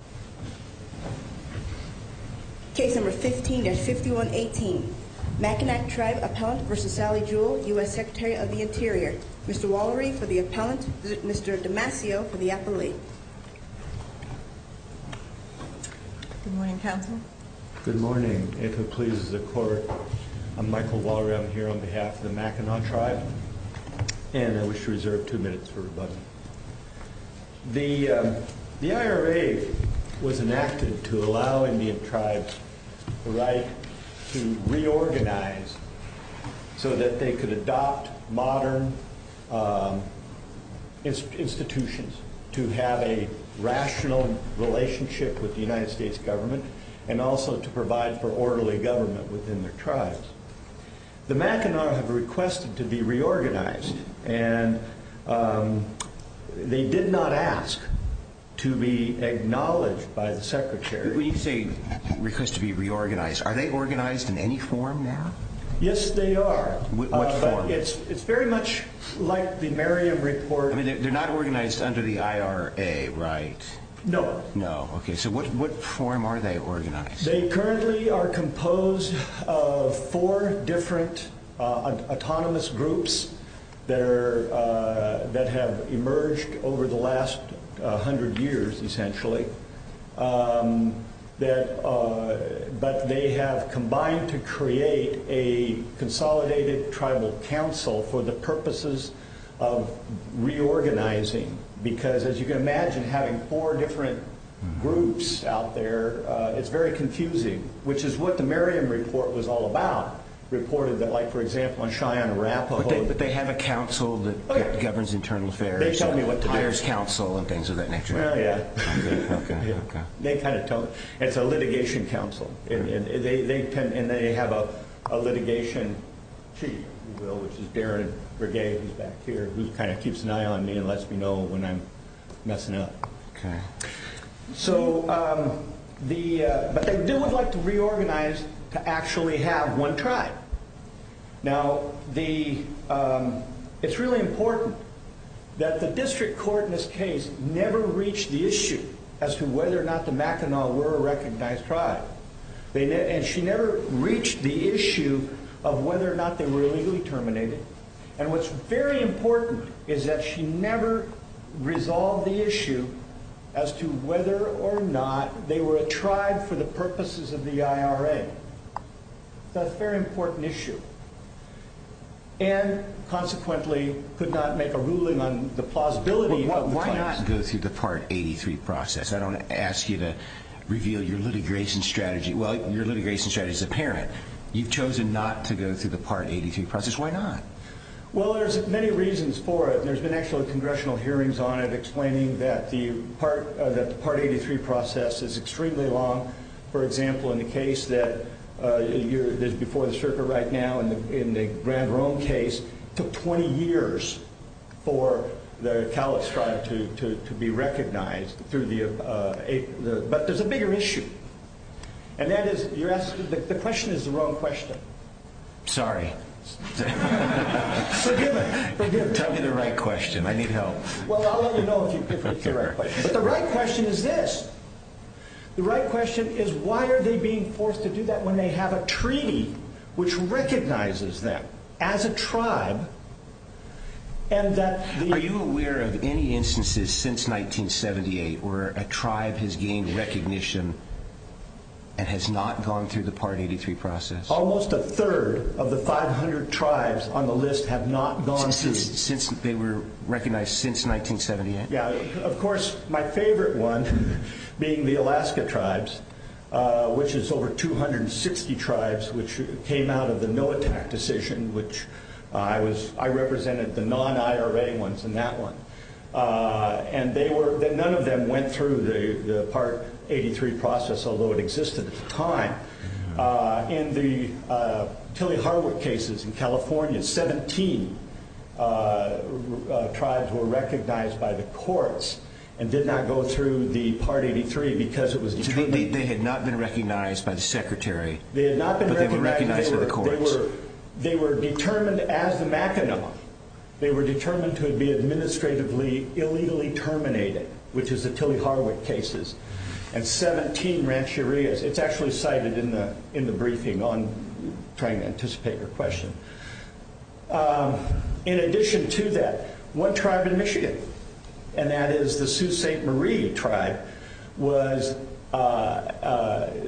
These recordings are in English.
U.S. Secretary of the Interior Mr. Wallery for the appellant Mr. Damasio for the appellee Good morning counsel Good morning, if it pleases the court I'm Michael Wallery, I'm here on behalf of the Mackinac Tribe And I wish to reserve two minutes for rebuttal The IRA The IRA The IRA The IRA The IRA was enacted to allow Indian Tribe to reorganize so that they could adopt modern institutions to have a rational relationship with the United States government and also to provide for orderly government within their tribes The Mackinac have requested to be reorganized and they did not ask to be acknowledged by the Secretary When you say request to be reorganized are they organized in any form now? Yes they are What form? It's very much like the Merriam Report They're not organized under the IRA, right? No So what form are they organized? They currently are composed of four different autonomous groups that have emerged over the last hundred years essentially but they have combined to create a consolidated tribal council for the purposes of reorganizing because as you can imagine having four different groups out there, it's very confusing which is what the Merriam Report was all about like for example on Cheyenne and Arapaho But they have a council that governs internal affairs and things of that nature Well yeah It's a litigation council and they have a litigation chief which is Darren Breguet who kind of keeps an eye on me and lets me know when I'm messing up Okay But they do like to reorganize to actually have one tribe Now the it's really important that the district court in this case never reached the issue as to whether or not the Mackinac were a recognized tribe and she never reached the issue of whether or not they were illegally terminated and what's very important is that she never resolved the issue as to whether or not they were a tribe for the purposes of the IRA That's a very important issue and consequently could not make a ruling on the plausibility Why not go through the Part 83 process? I don't ask you to reveal your litigation strategy Well, your litigation strategy is apparent You've chosen not to go through the Part 83 process Why not? Well, there's many reasons for it There's been actually congressional hearings on it explaining that the Part 83 process is extremely long For example, in the case that is before the circuit right now in the Grand Rome case took 20 years for the Cowlitz tribe to be recognized but there's a bigger issue and that is the question is the wrong question Sorry Forgive me Tell me the right question, I need help Well, I'll let you know if it's the right question But the right question is this The right question is why are they being forced to do that when they have a treaty which recognizes them as a tribe and that Are you aware of any instances since 1978 where a tribe has gained recognition and has not gone through the of the 500 tribes on the list have not gone through They were recognized since 1978 Yeah, of course my favorite one being the Alaska tribes which is over 260 tribes which came out of the NOATAC decision I represented the non-IRA ones in that one and none of them went through the Part 83 process although it existed at the time In the Tilley-Harwick cases in California 17 tribes were recognized by the courts and did not go through the Part 83 because they had not been recognized by the secretary but they were recognized by the courts They were determined as the Mackinac They were determined to be administratively illegally terminated which is the Tilley-Harwick cases and 17 Rancherias It's actually cited in the briefing on trying to anticipate your question In addition to that one tribe in Michigan and that is the Sault Ste. Marie tribe was acknowledged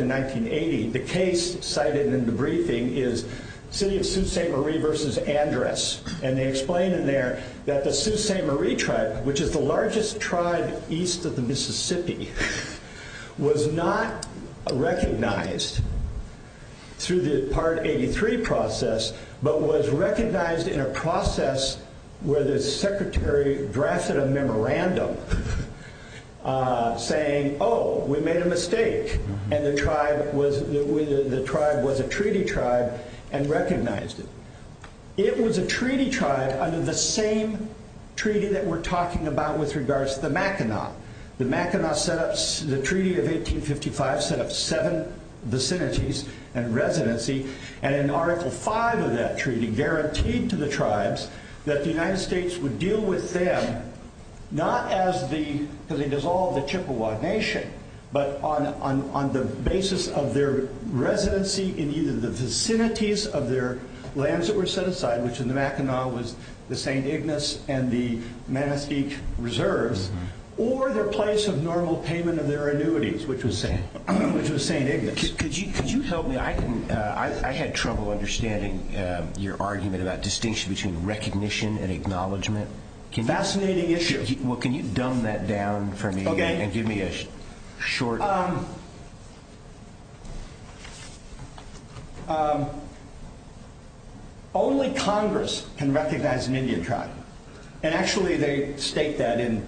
in 1980 The case cited in the briefing is City of Sault Ste. Marie versus Andres and they explain in there that the Sault Ste. Marie tribe which is the largest tribe east of the Mississippi was not recognized through the Part 83 process but was recognized in a process where the secretary drafted a memorandum saying oh we made a mistake and the tribe was a treaty tribe and recognized it It was a treaty tribe under the same treaty that we're talking about with regards to the Mackinac The treaty of 1855 set up seven vicinities and residency and in article 5 of that treaty guaranteed to the tribes that the United States would deal with them not as the because they dissolved the Chippewa Nation but on the basis of their residency in either the vicinities of their lands that were set aside which in the Mackinac was the St. Ignace and the Manistique reserves or their place of normal payment of their annuities which was St. Ignace Could you help me I had trouble understanding your argument about distinction between recognition and acknowledgement Fascinating issue Can you dumb that down for me and give me a short Only Congress can recognize an Indian tribe and actually they state that in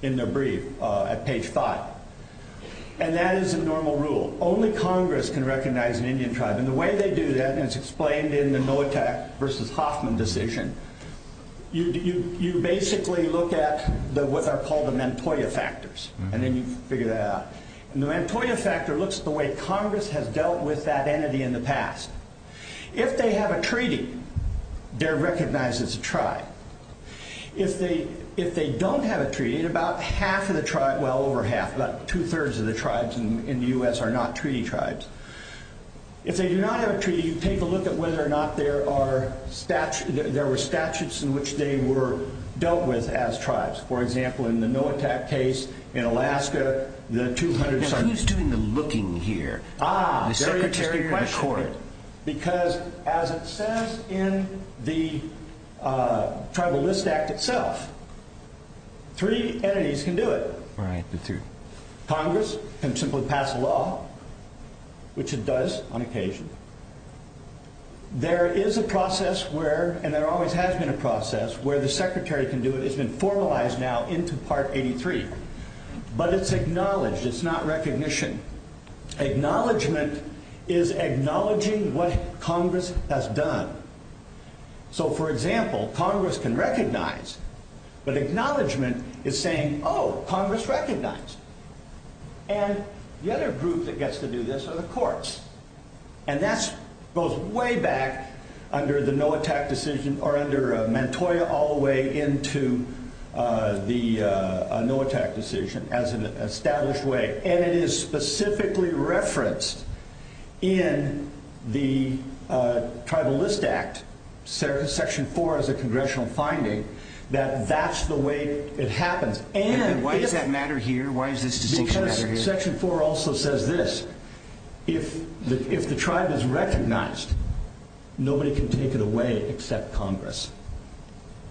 their brief at page 5 and that is a normal rule Only Congress can recognize an Indian tribe and the way they do that, and it's explained in the Noatak vs. Hoffman decision you basically look at what are called the Mentoya factors and the Mentoya factor looks at the way Congress has dealt with that entity in the past If they have a treaty they're recognized as a tribe If they don't have a treaty about half of the tribe, well over half about two thirds of the tribes in the U.S. are not treaty tribes If they do not have a treaty, you take a look at whether or not there are statutes in which they were dealt with as tribes for example in the Noatak case in Alaska Who's doing the looking here Ah, very interesting question because as it says in the Tribal List Act itself three entities can do it Congress can simply pass a law which it does on occasion There is a process where and there always has been a process where the Secretary can do it, it's been formalized now into Part 83 but it's acknowledged, it's not recognition Acknowledgement is acknowledging what Congress has done So for example Congress can recognize but acknowledgement is saying Oh, Congress recognized and the other group that gets to do this are the courts and that goes way back under the Noatak decision or under Mantoya all the way into the Noatak decision as an established way and it is specifically referenced in the Tribal List Act Section 4 as a Congressional finding that that's the way it happens And why does that matter here? Section 4 also says this If the tribe is recognized nobody can take it away except Congress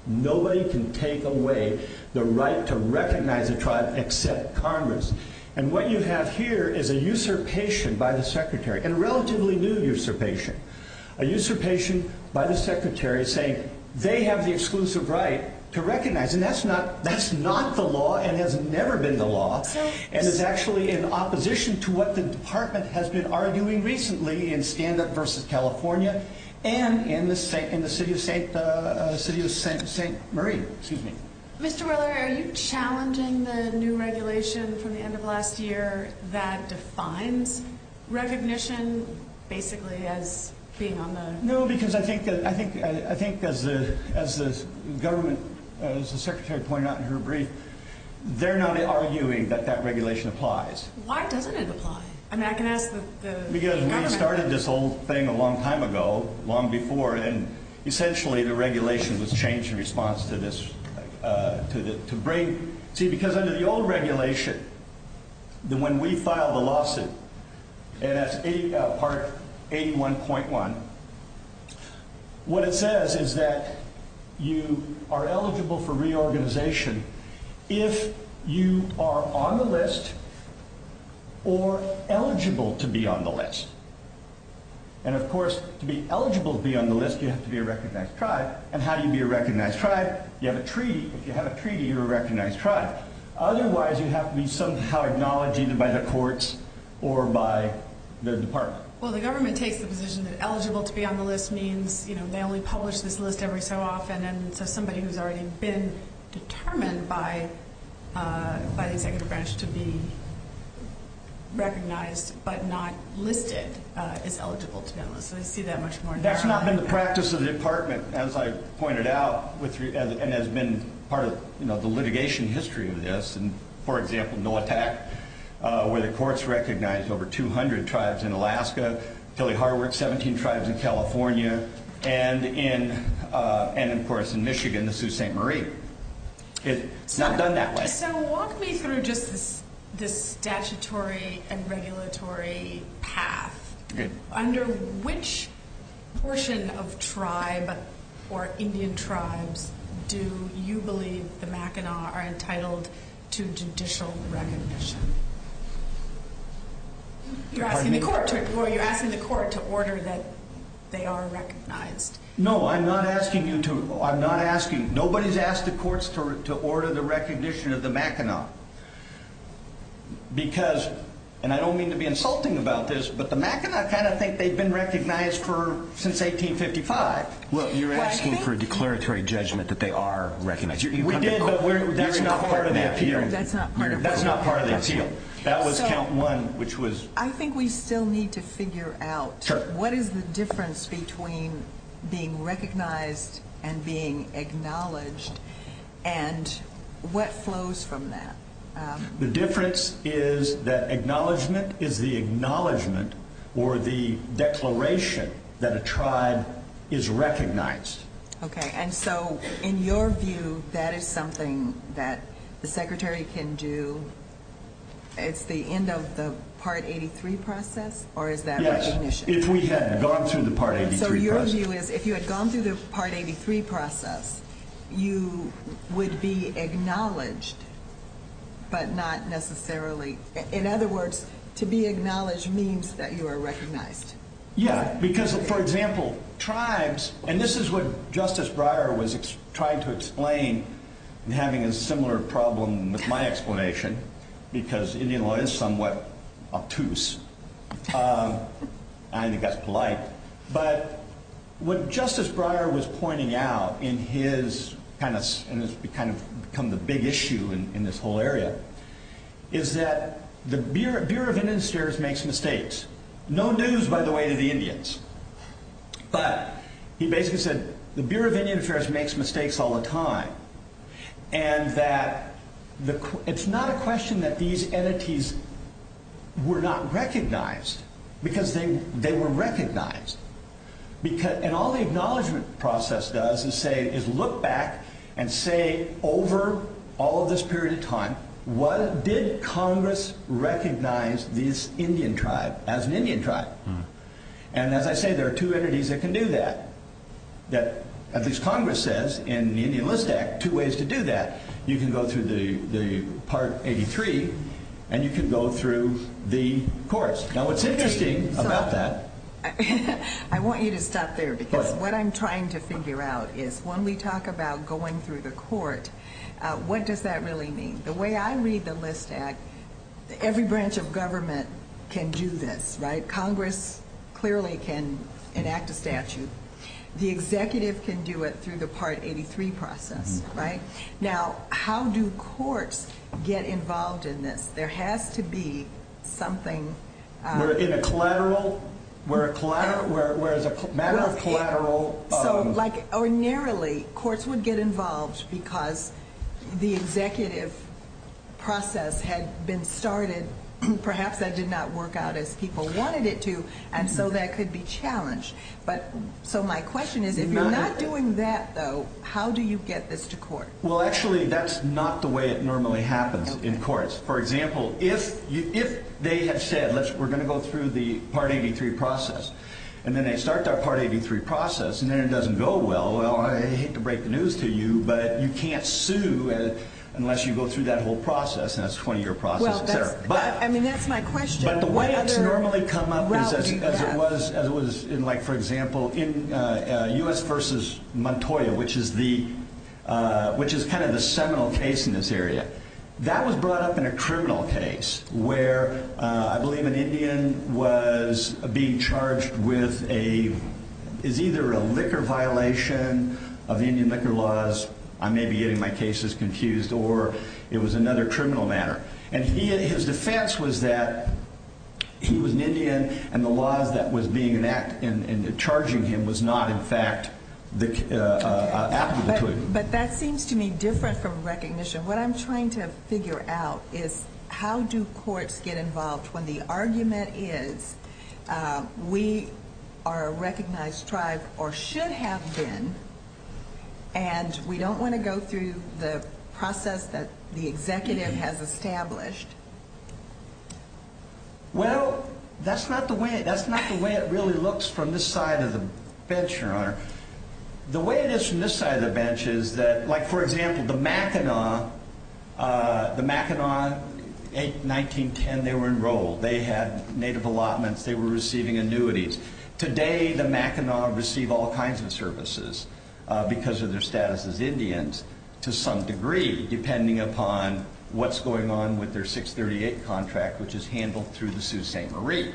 Nobody can take away the right to recognize a tribe except Congress And what you have here is a usurpation by the Secretary, and a relatively new usurpation A usurpation by the Secretary saying they have the exclusive right to recognize, and that's not the law and has never been the law and is actually in opposition to what the Department has been arguing recently in Stand Up vs. California and in the City of St. Marie, excuse me. Mr. Weller, are you challenging the new regulation from the end of last year that defines recognition basically as being on the... No, because I think as the Secretary pointed out in her brief they're not arguing that that regulation applies. Why doesn't it apply? And I can ask the... Because we started this whole thing a long time ago long before, and essentially the regulation was changed in response to this... See, because under the old regulation when we filed the lawsuit and that's part 81.1 what it says is that you are eligible for reorganization if you are on the list or eligible to be on the list And of course, to be eligible to be on the list, you have to be a recognized tribe and how do you be a recognized tribe? You have a treaty. If you have a treaty, you're a recognized tribe. Otherwise, you have to be somehow acknowledged either by the courts or by the Department. Well, the government takes the position that eligible to be on the list means they only publish this list every so often and so somebody who's already been determined by the Executive Branch to be recognized but not listed is eligible to be on the list. That's not been the practice of the Department as I pointed out and has been part of the litigation history of this for example, NOATAC where the courts recognize over 200 tribes in Alaska, Tilly Hardwick 17 tribes in California and of course in Michigan, the Sault Ste. Marie It's not done that way. So walk me through just this statutory and regulatory path. Under which portion of tribe or Indian tribes do you believe the Mackinac are entitled to judicial recognition? You're asking the court to order that they are recognized. No, I'm not asking you to nobody's asked the courts to order the recognition of the Mackinac because and I don't mean to be insulting about this but the Mackinac kind of think they've been recognized since 1855. You're asking for a declaratory judgment that they are recognized. We did but that's not part of the appeal. That was count one. I think we still need to figure out what is the difference between being recognized and being acknowledged and what flows from that. The difference is that acknowledgment is the acknowledgment or the declaration that a tribe is recognized. And so in your view that is something that the secretary can do. It's the end of the part 83 process or is that recognition? Yes, if we had gone through the part 83 process. So your view is if you had gone through the part 83 process you would be acknowledged but not necessarily in other words to be acknowledged means that you are recognized. Yeah, because for example tribes and this is what Justice Breyer was trying to explain and having a similar problem with my explanation because Indian law is somewhat obtuse. I think that's polite but what Justice Breyer was pointing out in his kind of become the big issue in this whole area is that the Bureau of Indian Affairs makes mistakes no news by the way to the Indians but he basically said the Bureau of Indian Affairs makes mistakes all the time and that it's not a question that these entities were not recognized because they were recognized and all the acknowledgement process does is say look back and say over all this period of time what did Congress recognize this Indian tribe as an Indian tribe and as I say there are two entities that can do that that at least Congress says in the Indian List Act two ways to do that. You can go through the part 83 and you can go through the courts. Now what's interesting about that I want you to stop there because what I'm trying to figure out is when we talk about going through the court what does that really mean? The way I read the list act every branch of government can do this right? Congress clearly can enact a statute. The executive can do it through the part 83 process right? Now how do courts get involved in this? There has to be something in a collateral where as a matter of collateral narrowly courts would get involved because the executive process had been started perhaps that did not work out as people wanted it to and so that could be challenged. So my question is if you're not doing that though how do you get this to court? Well actually that's not the way it normally happens in courts. For example if they have said we're going to go through the part 83 process and then they start that part 83 process and then it doesn't go well well I hate to break the news to you but you can't sue unless you go through that whole process and that's a 20 year process. That's my question. But the way it's normally come up is as it was in like for example U.S. versus Montoya which is the seminal case in this area that was brought up in a criminal case where I believe an Indian was being charged with a is either a liquor violation of Indian liquor laws I may be getting my cases confused or it was another criminal matter and his defense was that he was an Indian and the laws that was being enacted and charging him was not in fact applicable to him. But that seems to me different from recognition. What I'm trying to figure out is how do courts get involved when the argument is we are a recognized tribe or should have been and we don't want to go through the process that the executive has established Well from this side of the bench your honor. The way it is from this the Mackinaw the Mackinaw in 1910 they were enrolled they had native allotments, they were receiving annuities. Today the Mackinaw receive all kinds of services because of their status as Indians to some degree depending upon what's going on with their 638 contract which is handled through the Sault Ste. Marie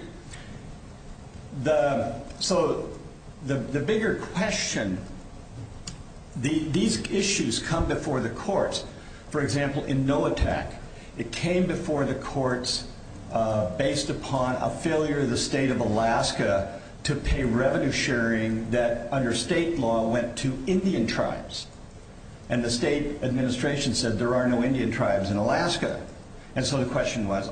the so the bigger question these issues come before the courts for example in Noatak it came before the courts based upon a failure of the state of Alaska to pay revenue sharing that under state law went to Indian tribes and the state administration said there are no Indian tribes in Alaska and so the question was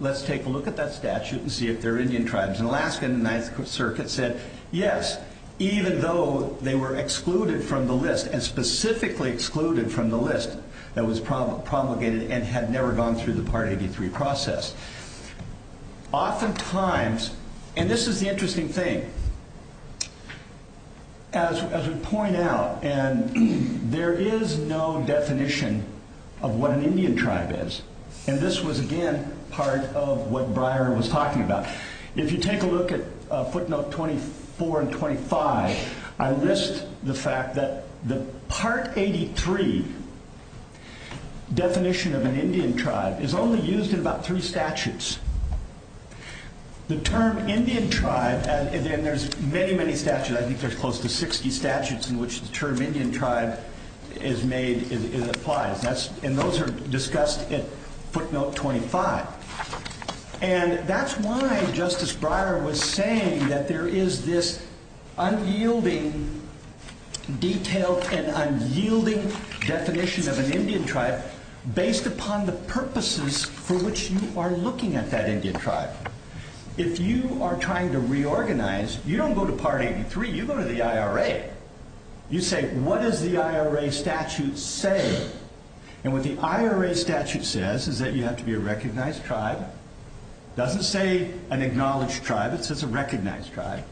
let's take a look at that statute and see if there are Indian tribes in Alaska and the 9th Circuit said yes even though they were excluded from the list and specifically excluded from the list that was promulgated and had never gone through the Part 83 process often times and this is the interesting thing as we point out there is no definition of what an Indian tribe is and this was again part of what Breyer was talking about. If you take a look at footnote 24 and 25 I list the fact that the Part 83 definition of an Indian tribe is only used in about 3 statutes the term Indian tribe and there's many many statutes I think there's close to 60 statutes in which the term Indian tribe is made and those are discussed in footnote 25 and that's why Justice Breyer was saying that there is this unyielding detailed and unyielding definition of an Indian tribe based upon the purposes for which you are looking at that Indian tribe. If you are trying to reorganize you don't go to Part 83 you go to the IRA you say what does the IRA statute say and what the IRA statute says is that you have to be a recognized tribe. It doesn't say an acknowledged tribe it says a recognized tribe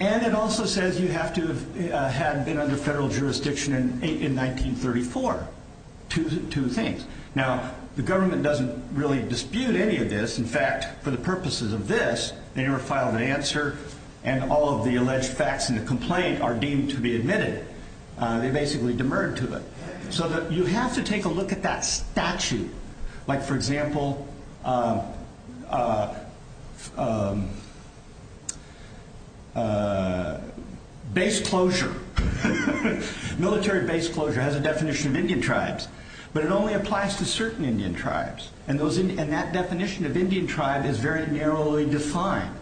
and it also says you have to have been under federal jurisdiction in 1934 two things now the government doesn't really dispute any of this in fact for the purposes of this they never filed an answer and all of the alleged facts in the complaint are deemed to be admitted. They basically demurred to it. So you have to take a look at that statute like for example base closure military base closure has a definition of Indian tribes but it only applies to certain Indian tribes and that definition of Indian tribe is very narrowly defined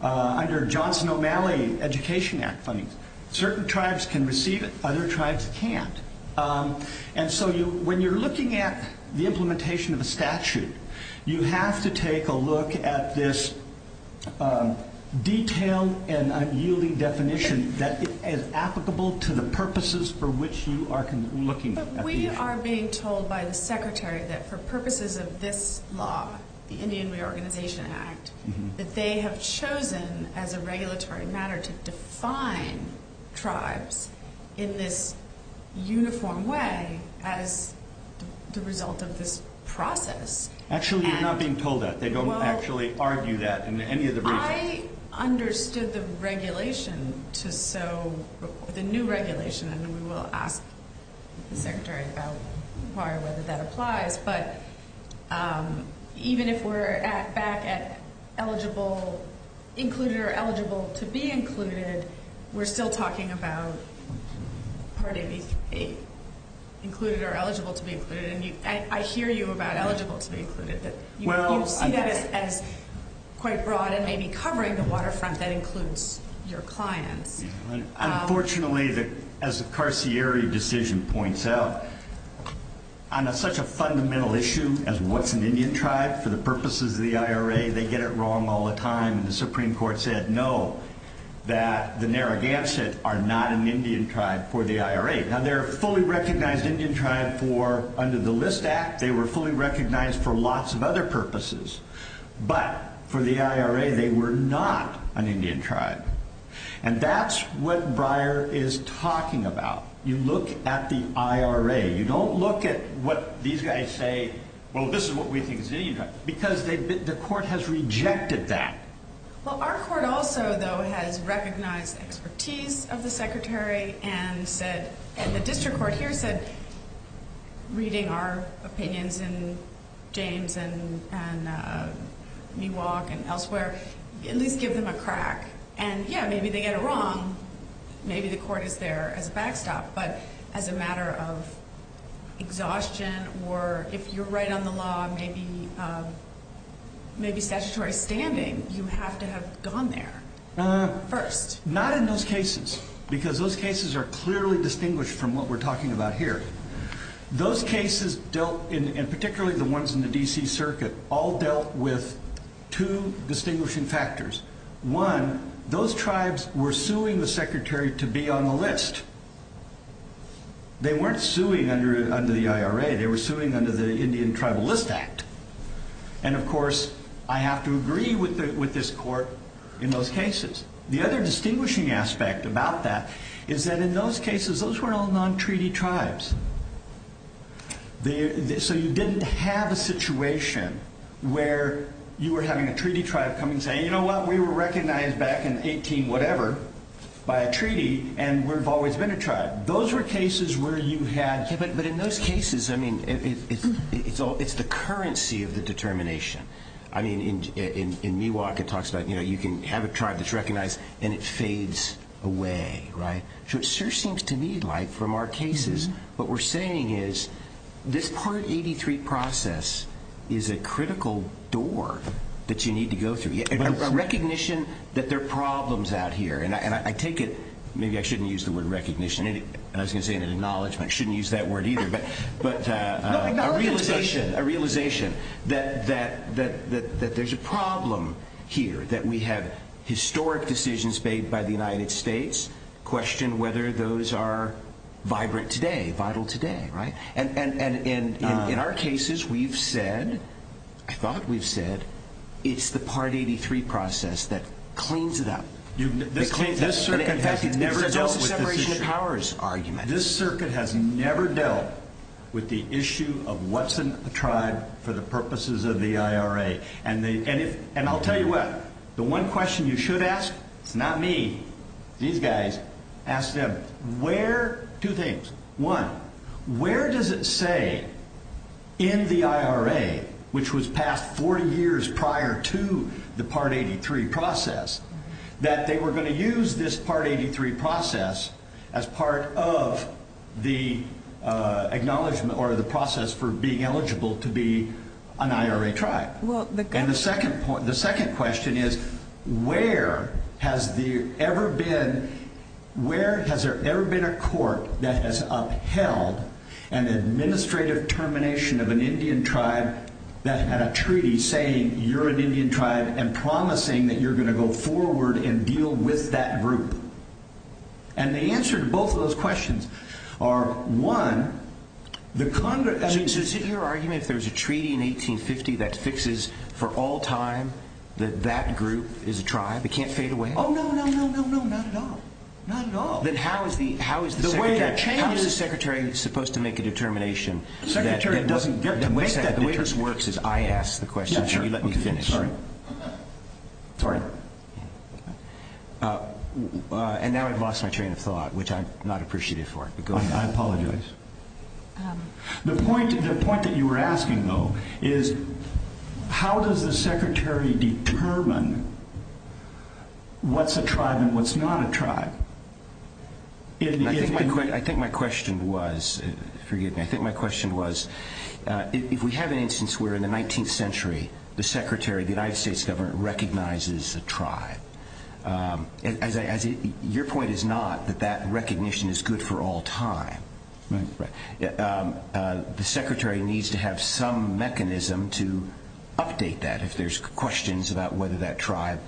under Johnson O'Malley education act funding. Certain tribes can receive it other tribes can't and so when you're looking at the implementation of a statute you have to take a look at this detailed and unyielding definition that is applicable to the purposes for which you are looking we are being told by the secretary that for purposes of this law the Indian Reorganization Act that they have chosen as a regulatory matter to define tribes in this uniform way as the result of this process actually you're not being told that they don't actually argue that in any of the briefings. I understood the regulation to so the new regulation and we will ask the secretary about why or whether that applies but even if we're back at eligible included or eligible to be included we're still talking about part of included or eligible to be included and I hear you about eligible to be included you see that as quite broad and maybe covering the waterfront that includes your clients unfortunately as the Carcieri decision points out on such a fundamental issue as what's an Indian tribe for the purposes of the IRA they get it wrong all the time and the Supreme Court says that the Narragansett are not an Indian tribe for the IRA now they're a fully recognized Indian tribe for under the List Act they were fully recognized for lots of other purposes but for the IRA they were not an Indian tribe and that's what Breyer is talking about you look at the IRA you don't look at what these guys say well this is what we think is Indian tribe because the court has rejected that well our court also though has recognized expertise of the secretary and said and the district court here said reading our opinions and James and and Miwok and elsewhere at least give them a crack and yeah maybe they get it wrong maybe the court is there as a backstop but as a matter of exhaustion or if you're right on the law maybe maybe statutory standing you have to have gone there first not in those cases because those cases are clearly distinguished from what we're talking about here those cases dealt in particularly the ones in the DC circuit all dealt with two distinguishing factors one those tribes were suing the secretary to be on the list they weren't suing under the IRA they were suing under the Indian Tribal List Act and of course I have to agree with this court in those cases the other distinguishing aspect about that is that in those cases those were all non-treaty tribes so you didn't have a situation where you were having a treaty tribe come and say you know what we were recognized back in 18 whatever by a treaty and we've always been a tribe those were cases where you had but in those cases it's the currency of the determination in Miwok it talks about you can have a tribe that's recognized and it fades away so it sure seems to me like from our cases what we're saying is this part 83 process is a critical door that you need to go through a recognition that there are problems out here and I take it maybe I shouldn't use the word recognition I was going to say an acknowledgement I shouldn't use that word either but a realization that there's a problem here that we have historic decisions made by the United States question whether those are vibrant today, vital today and in our cases we've said I thought we've said it's the part 83 process that cleans it up this circuit has never dealt with this issue this circuit has never dealt with the issue of what's a tribe for the purposes of the IRA and I'll tell you what, the one question you should ask, it's not me these guys, ask them where, two things, one where does it say in the IRA which was passed 40 years prior to the part 83 process that they were going to use this part 83 process as part of the acknowledgement or the process for being eligible to be an IRA tribe and the second question is where has there ever been where has there ever been a court that has upheld an administrative termination of an Indian tribe that had a treaty saying you're an Indian tribe and promising that you're going to go forward and deal with that group and the answer to both of those questions are one the Congress so is it your argument if there was a treaty in 1850 that fixes for all time that that group is a tribe it can't fade away? Oh no no no no no not at all, not at all then how is the secretary supposed to make a determination the secretary doesn't get to make that the way this works is I ask the question and you let me finish sorry and now I've lost my train of thought which I'm not appreciative for I apologize the point that you were asking though is how does the secretary determine what's a tribe and what's not a tribe I think my question was forgive me, I think my question was if we have an instance where in the 19th century the secretary of the United States government recognizes a tribe your point is not that that recognition is good for all time the secretary needs to have some mechanism to update that if there's questions about whether that tribe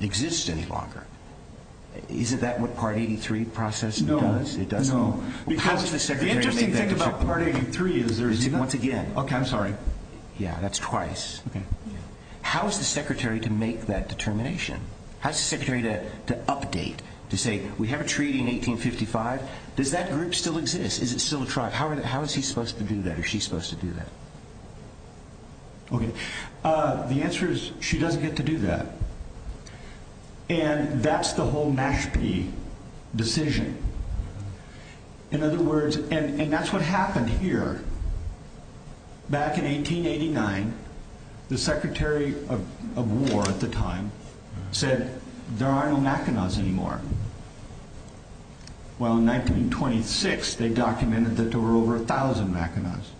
exists any longer isn't that what part 83 process does? No the interesting thing about part 83 is once again that's twice how is the secretary to make that determination how is the secretary to update to say we have a treaty in 1855 does that group still exist is it still a tribe how is he supposed to do that or is she supposed to do that the answer is she doesn't get to do that and that's the whole Mashpee decision in other words and that's what happened here back in 1889 the secretary of war at the time said there are no Mackinac's anymore while in 1926 they documented that there were over a thousand Mackinac's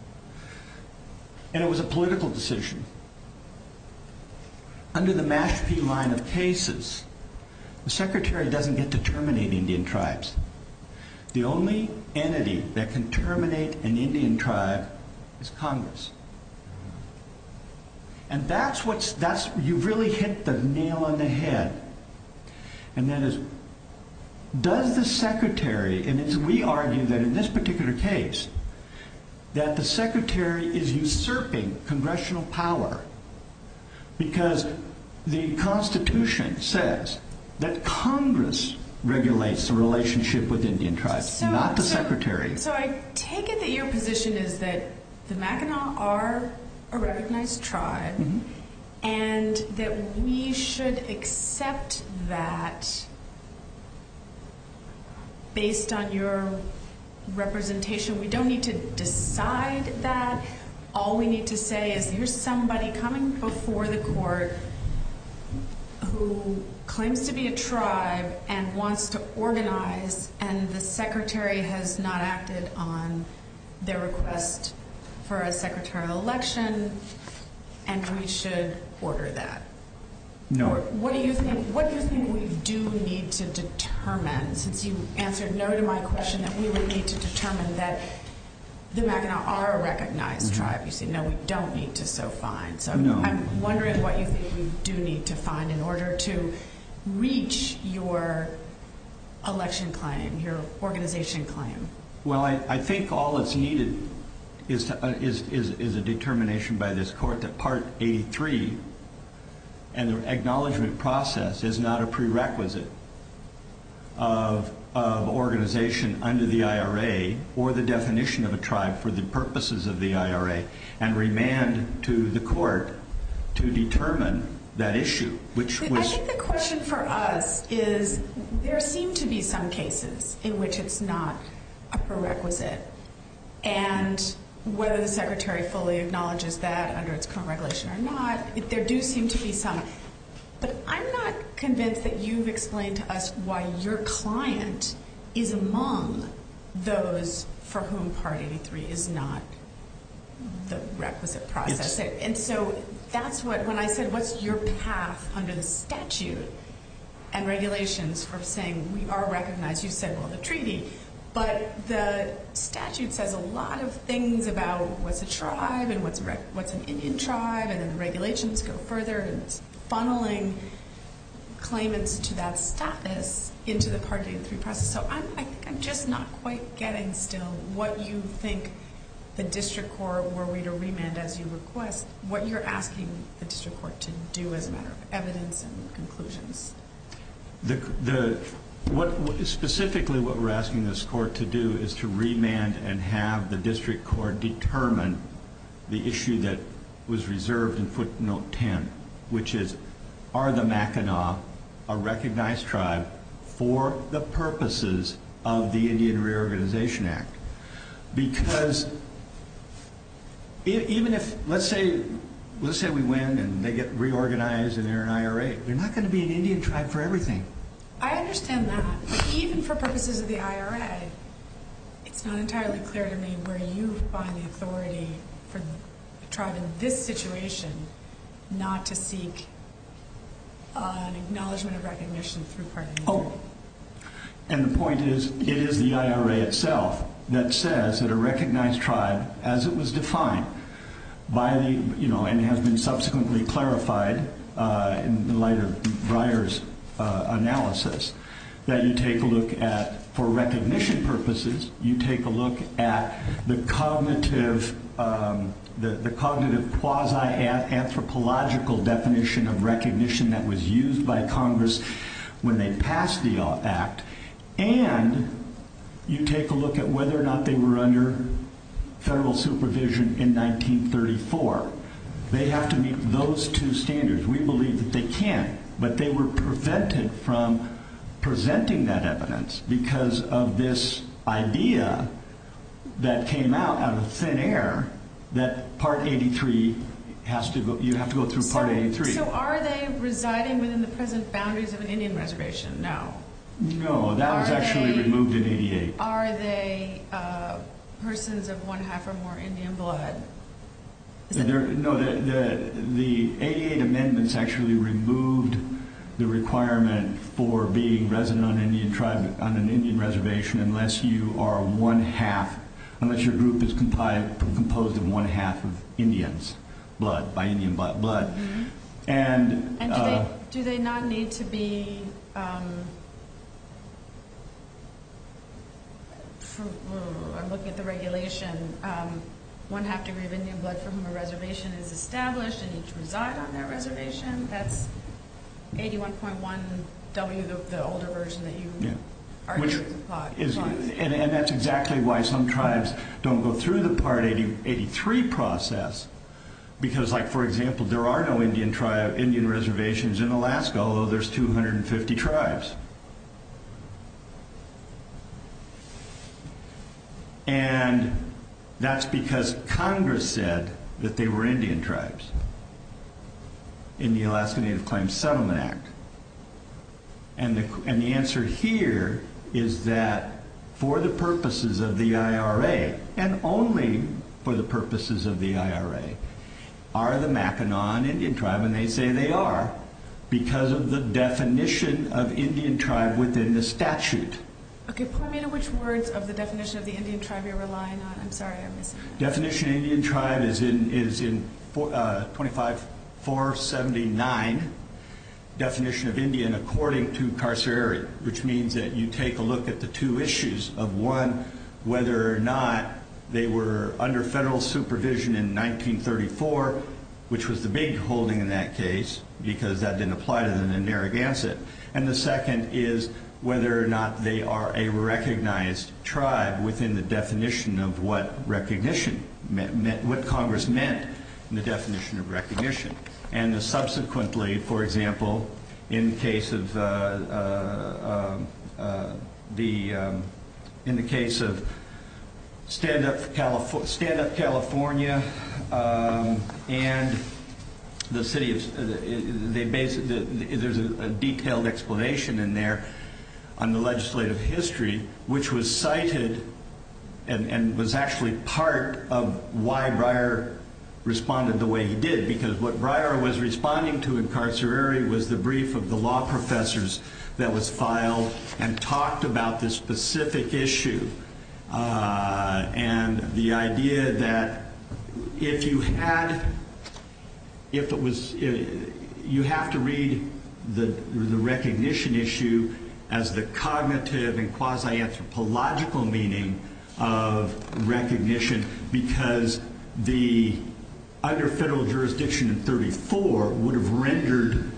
and it was a political decision under the Mashpee line of cases the secretary doesn't get to terminate Indian tribes the only entity that can terminate an Indian tribe is Congress and that's what you really hit the nail on the head and that is does the secretary and we argue that in this particular case that the secretary is usurping congressional power because the that Congress regulates the relationship with Indian tribes not the secretary so I take it that your position is that the Mackinac are a recognized tribe and that we should accept that based on your representation we don't need to decide that all we need to say is here's somebody coming before the court who claims to be a tribe and wants to organize and the secretary has not acted on their request for a secretarial election and we should order that what do you think we do need to determine since you answered no to my question that we would need to determine that the Mackinac are a recognized tribe you say no we don't need to so fine I'm wondering what you think we do need to find in order to reach your election claim your organization claim I think all that's needed is a determination by this court that part 83 and the acknowledgement process is not a prerequisite of organization under the IRA or the definition of a tribe for the purposes of the IRA and remand to the court to determine that issue which was I think the question for us is there seem to be some cases in which it's not a prerequisite and whether the secretary fully acknowledges that under its current regulation or not there do seem to be some but I'm not convinced that you've explained to us why your client is among those for whom part 83 is not the requisite process and so that's what when I said what's your path under the statute and regulations for saying we are recognized you said well the treaty but the statute says a lot of things about what's a tribe and what's an Indian tribe and the regulations go further and it's funneling claimants to that status into the part 83 process so I'm just not quite getting still what you think the district court were we to remand as you request what you're asking the district court to do as a matter of evidence and conclusions specifically what we're asking this court to do is to remand and have the district court determine the issue that was reserved in footnote 10 which is are the Mackinac a recognized tribe for the purposes of the Indian reorganization act because even if let's say we win and they get reorganized and they're an IRA they're not going to be an Indian tribe for everything I understand that even for purposes of the IRA it's not entirely clear to me where you find the authority for the tribe in this situation not to seek an acknowledgement of recognition through recognition but my second point is it is the IRA itself that says that a recognized tribe as it was defined by the you know and has been subsequently clarified By the night of writers analysis that you take a look at for recognition purpose that you take a look 2 quasi anthropological definition of recognition that was used by congress when they passed the act and you take a look at whether or not they were under federal supervision in 1934 they have to meet those 2 standards we believe that they can't but they were prevented from presenting that evidence because of this idea that came out out of thin air that part 83 you have to go through part 83 So are they residing within the present boundaries of an Indian reservation? No No, that was actually removed in 88. Are they persons of one half or more Indian blood? No, the 88 amendments actually removed the requirement for being resident on an Indian tribe on an Indian reservation unless you are one half unless your group is composed of one half of Indians blood, by Indian blood and do they not need to be I'm looking at the regulation one half degree of Indian blood for whom a reservation is established and need to reside on that reservation that's 81.1 W, the older version that you argued was applied and that's exactly why some tribes don't go through the part 83 process because like for example there are no Indian reservations in Alaska although there's 250 tribes and that's because Congress said that they were Indian tribes in the Alaska Native Claims Settlement Act and the answer here is that for the purposes of the IRA and only for the purposes of the IRA are the Mackinac Indian tribe and they say they are because of the definition of Indian tribe within the statute Okay, point me to which words of the definition of the Indian tribe you're relying on I'm sorry I missed it. Definition of Indian tribe is in 25479 definition of Indian according to Carcerary which means that you take a look at the two issues of one, whether or not they were under federal supervision in 1934 which was the big holding in that case because that didn't apply to the Narragansett and the second is whether or not they are a recognized tribe within the definition of what recognition meant, what Congress meant in the definition of recognition and the subsequently for example in case of the in the case of stand up California and the city of there's a detailed explanation in there on the legislative history which was cited and was actually part of why Breyer responded the way he did because what Breyer was responding to in Carcerary was the brief of the law professors that was filed and talked about this specific issue and the idea that if you had if it was you have to read the recognition issue as the cognitive and quasi-anthropological meaning of recognition because the under federal jurisdiction in 34 would have rendered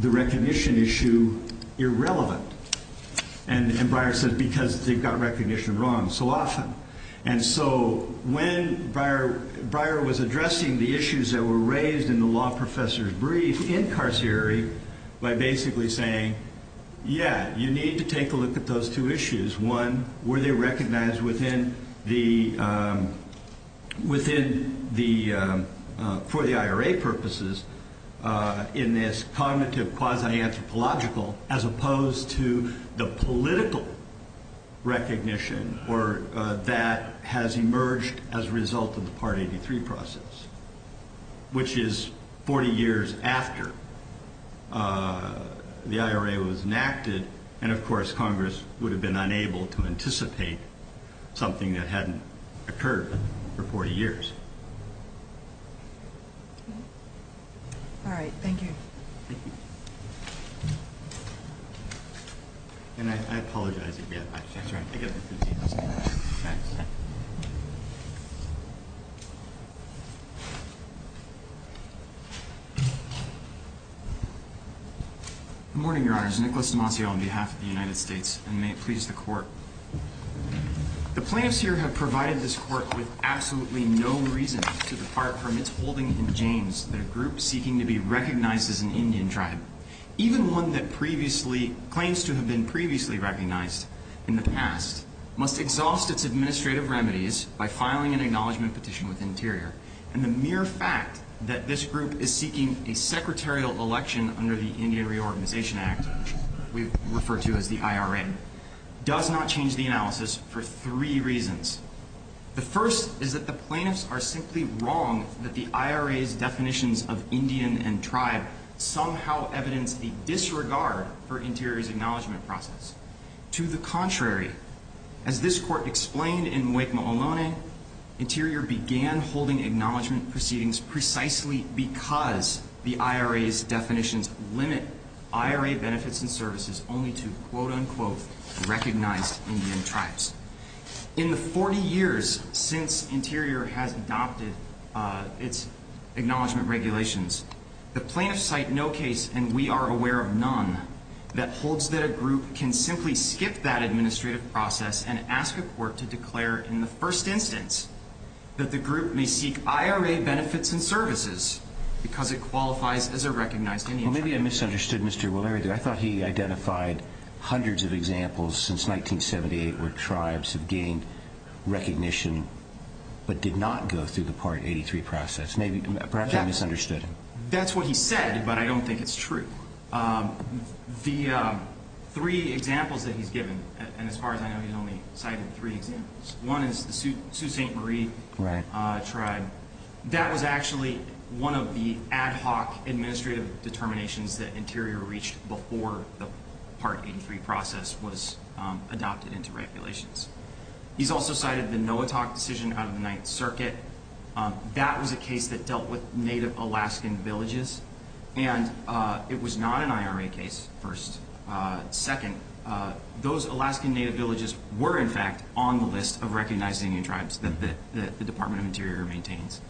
the recognition issue irrelevant and Breyer said because they got recognition wrong so often and so when Breyer was addressing the issues that were raised in the law professors brief in Carcerary by basically saying yeah you need to take a look at those two issues one were they recognized within the for the IRA purposes in this cognitive quasi-anthropological as opposed to the political recognition or that has emerged as a result of the part 83 process which is 40 years after the IRA was enacted and of course congress would have been unable to anticipate something that hadn't occurred for 40 years alright thank you thank you and I apologize again good morning your honor Nicholas Demasio on behalf of the United States and may it please the court the plaintiffs here have provided this court with absolutely no reason to depart from its holding in Janes that a group seeking to be recognized as an Indian tribe even one that previously claims to have been previously recognized in the past must exhaust its administrative remedies by filing an acknowledgement petition with Interior and the mere fact that this group is seeking a secretarial election under the Indian Reorganization Act we refer to as the analysis for three reasons the first is that the plaintiffs are simply wrong that the IRA's definitions of Indian and tribe somehow evidence the disregard for Interior's acknowledgement process to the contrary as this court explained in Wake Maloney Interior began holding acknowledgement proceedings precisely because the IRA's definitions limit IRA benefits and services only to quote Indian tribes. In the 40 years since Interior has adopted its acknowledgement regulations the plaintiffs cite no case and we are aware of none that holds that a group can simply skip that administrative process and ask a court to declare in the first instance that the group may seek IRA benefits and services because it qualifies as a recognized Indian tribe. Maybe I misunderstood Mr. I thought he identified hundreds of examples since 1978 where tribes have gained recognition but did not go through the Part 83 process perhaps I misunderstood. That's what he said but I don't think it's true the three examples that he's given and as far as I know he's only cited three examples. One is the Sioux St. Marie tribe that was actually one of the ad hoc administrative determinations that Interior reached before the Part 83 process was adopted into regulations. He's also cited the Noatak decision out of the Ninth Circuit that was a case that dealt with native Alaskan villages and it was not an IRA case, first. Second, those Alaskan native villages were in fact on the list of recognized Indian tribes that the Department of Interior maintains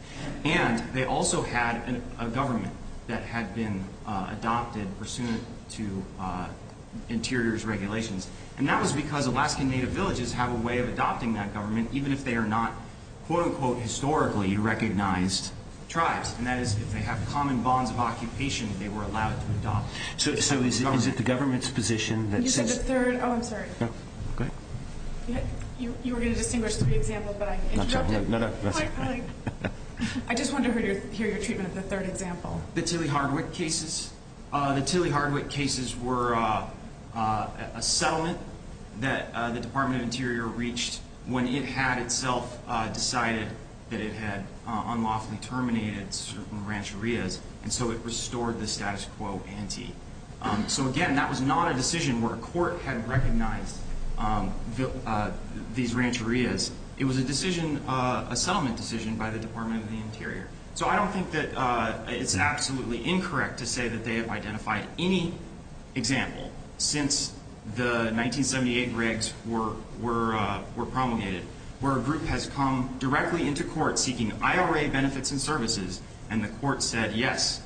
and they also had a government that had been adopted pursuant to Interior's regulations and that was because Alaskan native villages have a way of adopting that government even if they are not quote-unquote historically recognized tribes and that is if they have common bonds of occupation they were allowed to adopt. So is it the government's position that You said the third, oh I'm sorry. Go ahead. You were going to distinguish three examples but I interrupted. I just wanted to hear your treatment of the third example. The Tilly Hardwick cases. The Tilly Hardwick cases were a settlement that the Department of Interior reached when it had itself decided that it had unlawfully terminated certain rancherias and so it restored the status quo ante. So again, that was not a decision where these rancherias. It was a decision, a settlement decision by the Department of the Interior. So I don't think that it's absolutely incorrect to say that they have identified any example since the 1978 regs were promulgated where a group has come directly into court seeking IRA benefits and services and the court said yes,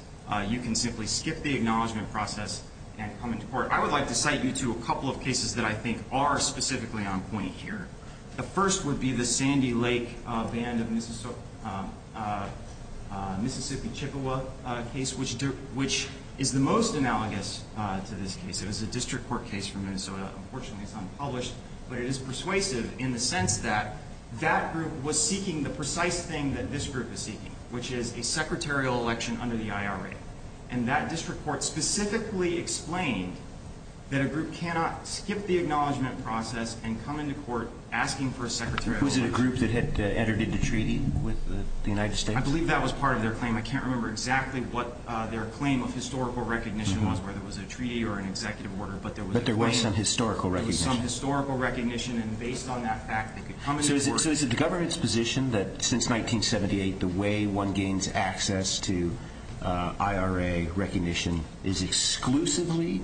you can simply skip the acknowledgement process and come into court. I would like to cite you to a couple of cases that I think are specifically on point here. The first would be the Sandy Lake Band of Mississippi Chippewa case, which is the most analogous to this case. It was a district court case from Minnesota. Unfortunately, it's unpublished, but it is persuasive in the sense that that group was seeking the precise thing that this group is seeking, which is a secretarial election under the IRA. And that district court specifically explained that a group cannot skip the acknowledgement process and come into court asking for a secretarial election. Was it a group that had entered into treaty with the United States? I believe that was part of their claim. I can't remember exactly what their claim of historical recognition was, whether it was a treaty or an executive order, but there was a claim. But there was some historical recognition. There was some historical recognition and based on that fact, they could come into court. So is it the government's position that since 1978, the way one gains access to IRA recognition is exclusively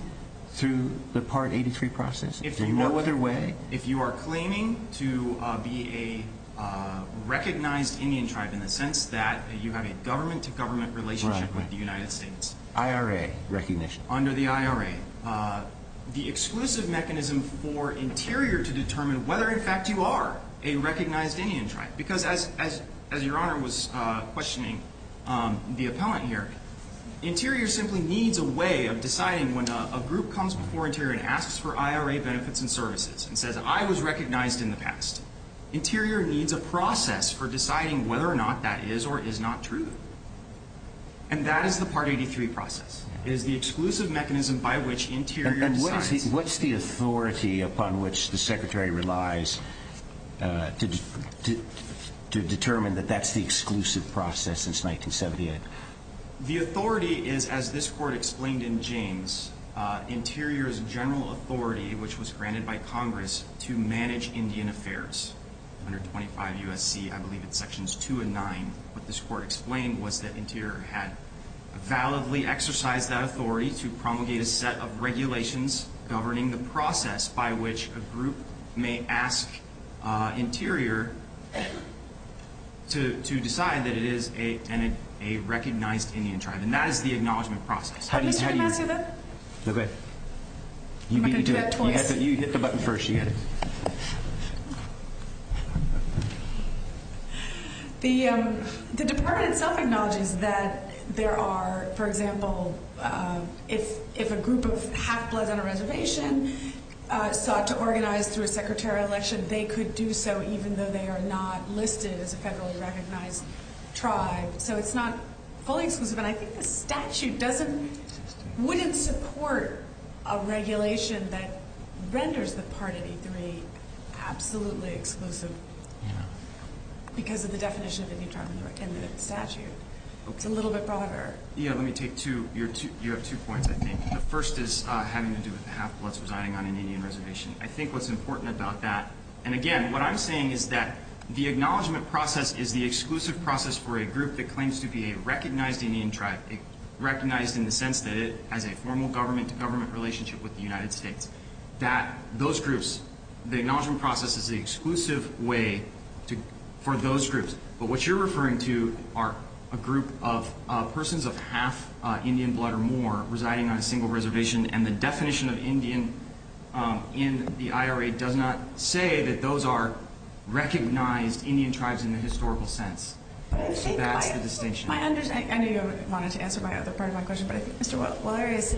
through the Part 83 process? Is there no other way if you are claiming to be a recognized Indian tribe in the sense that you have a government-to-government relationship with the United States? IRA recognition. Under the IRA, the exclusive mechanism for Interior to determine whether in fact you are a recognized Indian tribe, because as your Honor was questioning the appellant here, Interior simply needs a way of deciding when a group comes before Internal Services and says, I was recognized in the past. Interior needs a process for deciding whether or not that is or is not true. And that is the Part 83 process. It is the exclusive mechanism by which Interior decides. And what's the authority upon which the Secretary relies to determine that that's the exclusive process since 1978? The authority is, as this Court explained in James, Interior's general authority, which was granted by Congress, to manage Indian affairs. Under 25 U.S.C., I believe it's Sections 2 and 9, what this Court explained was that Interior had validly exercised that authority to promulgate a set of regulations governing the process by which a group may ask Interior to decide that it is a recognized Indian tribe. And that is the acknowledgement process. Can I try to ask you that? No, go ahead. You hit the button first. The Department itself acknowledges that there are, for example, if a group of half-bloods on a reservation sought to organize through a secretarial election, they could do so even though they are not listed as a federally recognized tribe. So it's not fully exclusive. And I think the statute wouldn't support a regulation that renders the part of E3 absolutely exclusive because of the definition of Indian tribe in the statute. It's a little bit broader. You have two points, I think. The first is having to do with half-bloods residing on an Indian reservation. I think what's important about that, and again, what I'm saying is that the acknowledgement process is the exclusive process for a group that claims to be a recognized Indian tribe, recognized in the sense that it has a formal government-to-government relationship with the United States. Those groups, the acknowledgement process is the exclusive way for those groups. But what you're referring to are a group of persons of half Indian blood or more residing on a single reservation, and the definition of Indian in the IRA does not say that those are recognized Indian tribes in the historical sense. That's the distinction. I know you wanted to answer my other part of my question, but I think Mr. Wallerius,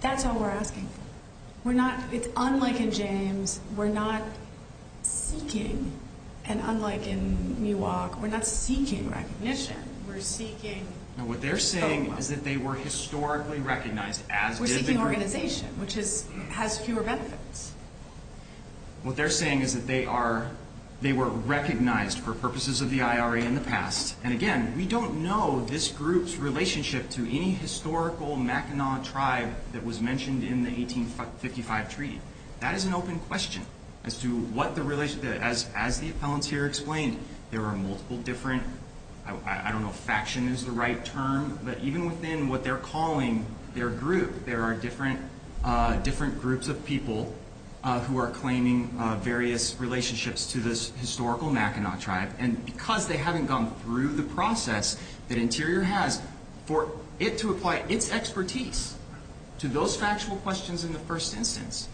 that's all we're asking. We're not, it's unlike in James, we're not seeking, and unlike in Miwok, we're not seeking recognition. We're seeking What they're saying is that they were historically recognized as We're seeking organization, which has fewer benefits. What they're saying is that they are recognized for purposes of the IRA in the past, and again, we don't know this group's relationship to any historical Mackinac tribe that was mentioned in the 1855 treaty. That is an open question as to what the relation, as the appellant here explained, there are multiple different, I don't know if faction is the right term, but even within what they're calling their group, there are different groups of people who are claiming various relationships to this historical Mackinac tribe, and because they haven't gone through the process that Interior has, for it to apply its expertise to those factual questions in the first instance,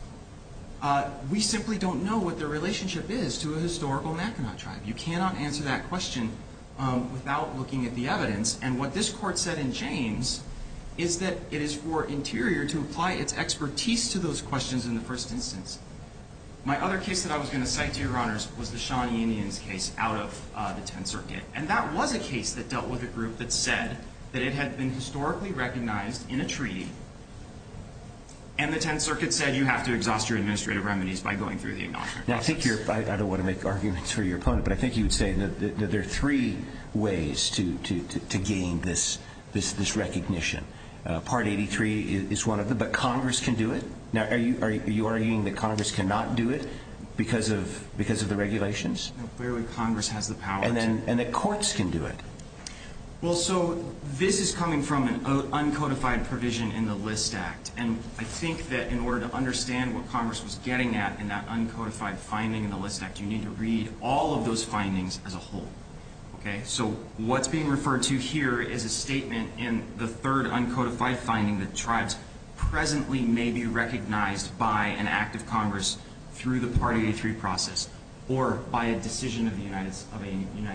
we simply don't know what their relationship is to a historical Mackinac tribe. You cannot answer that question without looking at the evidence, and what this court said in James is that it is for Interior to apply its expertise to those questions in the first instance. My other case that I was going to cite to your honors was the Shawnee Indians case out of the 10th Circuit, and that was a case that dealt with a group that said that it had been historically recognized in a treaty, and the 10th Circuit said you have to exhaust your administrative remedies by going through the acknowledgment process. Now I think you're, I don't want to make arguments for your opponent, but I think you would say that there are three ways to gain this recognition. Part 83 is one of them, but Congress can do it? Now are you arguing that Congress cannot do it because of the regulations? No, clearly Congress has the power to. And that courts can do it? Well, so this is coming from an uncodified provision in the List Act, and I think that in order to understand what Congress was getting at in that uncodified finding in the List Act, you need to read all of those findings as a whole. Okay, so what's being referred to here is a statement in the third uncodified finding that tribes presently may be recognized by an act of Congress through the Part 83 process, or by a decision of the United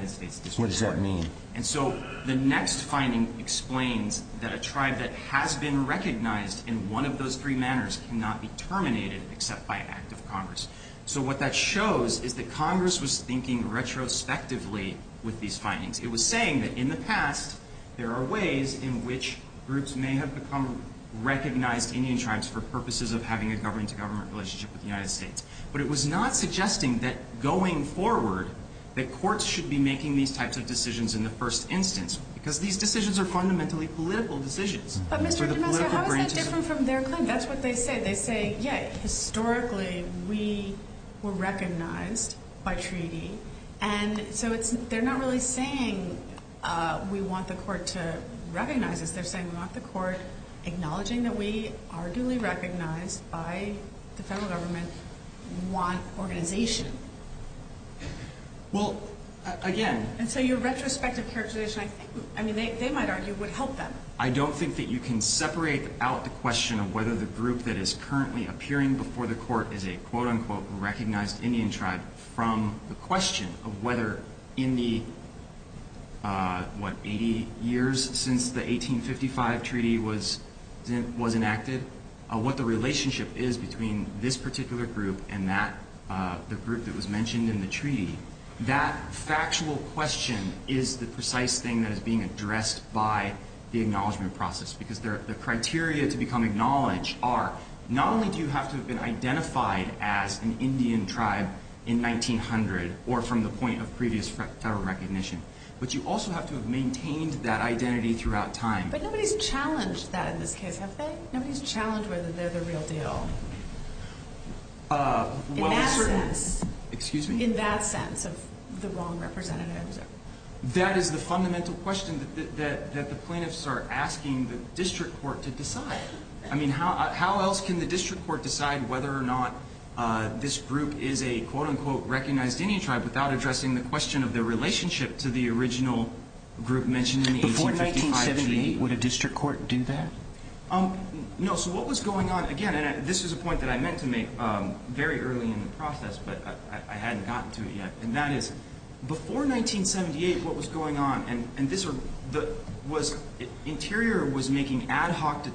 States. What does that mean? And so the next finding explains that a tribe that has been recognized in one of those three manners cannot be terminated except by an act of Congress. So what that shows is that Congress was thinking retrospectively with these findings. It was saying that in the past there are ways in which groups may have become recognized Indian tribes for purposes of having a government-to-government relationship with the United States. But it was not suggesting that going forward, that courts should be making these types of decisions in the first instance, because these decisions are fundamentally political decisions. But Mr. Damasco, how is that different from their claim? That's what they say. They say, yeah, historically we were recognized by treaty, and so they're not really saying we want the court to recognize us. They're saying we want the court acknowledging that we are duly recognized by the federal government want organization. Well, again... And so your retrospective characterization, I mean, they might argue, would help them. I don't think that you can separate out the question of whether the group that is currently appearing before the court is a quote-unquote recognized Indian tribe from the question of whether in the what, 80 years since the 1855 treaty was enacted, what the relationship is between this particular group and that, the group that was mentioned in the treaty. That factual question is the precise thing that is being addressed by the acknowledgement process because the criteria to become acknowledged are, not only do you have to have been identified as an Indian tribe in 1900 or from the point of previous federal recognition, but you also have to have maintained that identity throughout time. But nobody's challenged that in this case, have they? Nobody's challenged whether they're the real deal. In that sense. Excuse me? In that sense of the wrong representatives. That is the fundamental question that the plaintiffs are asking the district court to decide. I mean, how else can the district court decide whether or not this group is a, quote-unquote, recognized Indian tribe without addressing the question of their relationship to the original group mentioned in the 1855 treaty? Before 1978, would a district court do that? No, so what was going on, again, and this is a point that I meant to make very early in the process, but I hadn't gotten to it yet, and that is before 1978, what was going on, and this was interior was making ad hoc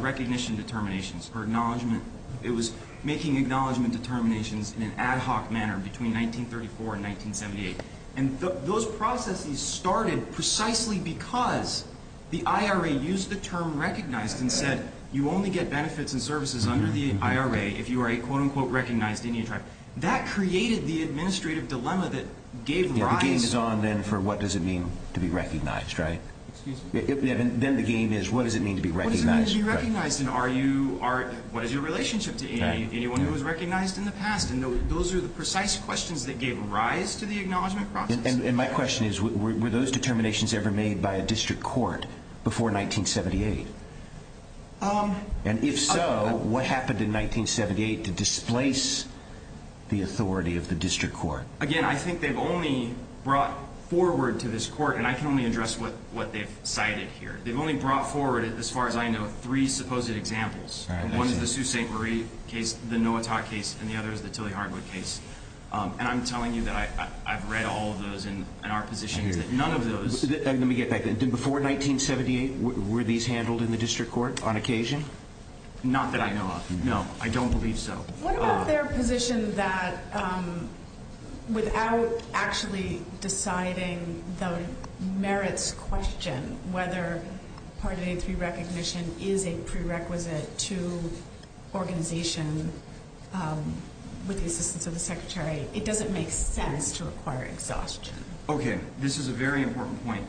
recognition determinations for acknowledgement. It was making acknowledgement determinations in an ad hoc manner between 1934 and 1978. And those processes started precisely because the IRA used the term recognized and said, you only get benefits and services under the IRA if you are a, quote-unquote, recognized Indian tribe. That created the administrative dilemma that gave rise... The game is on then for what does it mean to be recognized, right? Excuse me? Then the game is, what does it mean to be recognized? And what is your relationship to anyone who was recognized in the past? And those are the precise questions that gave rise to the acknowledgement process. And my question is, were those determinations ever made by a district court before 1978? And if so, what happened in 1978 to displace the authority of the district court? Again, I think they've only brought forward to this court, and I can only address what they've cited here. They've only brought forward, as far as I know, three supposed examples. One is the Sault Ste. Marie case, the Noatak case, and the other is the Tilley-Hartwood case. And I'm telling you that I've read all of those, and our position is that none of those... Let me get back. Before 1978, were these handled in the district court on occasion? Not that I know of, no. I don't believe so. What about their position that without actually deciding the merits question, whether Part 8.3 recognition is a prerequisite to organization with the assistance of the Secretary? It doesn't make sense to require exhaustion. Okay. This is a very important point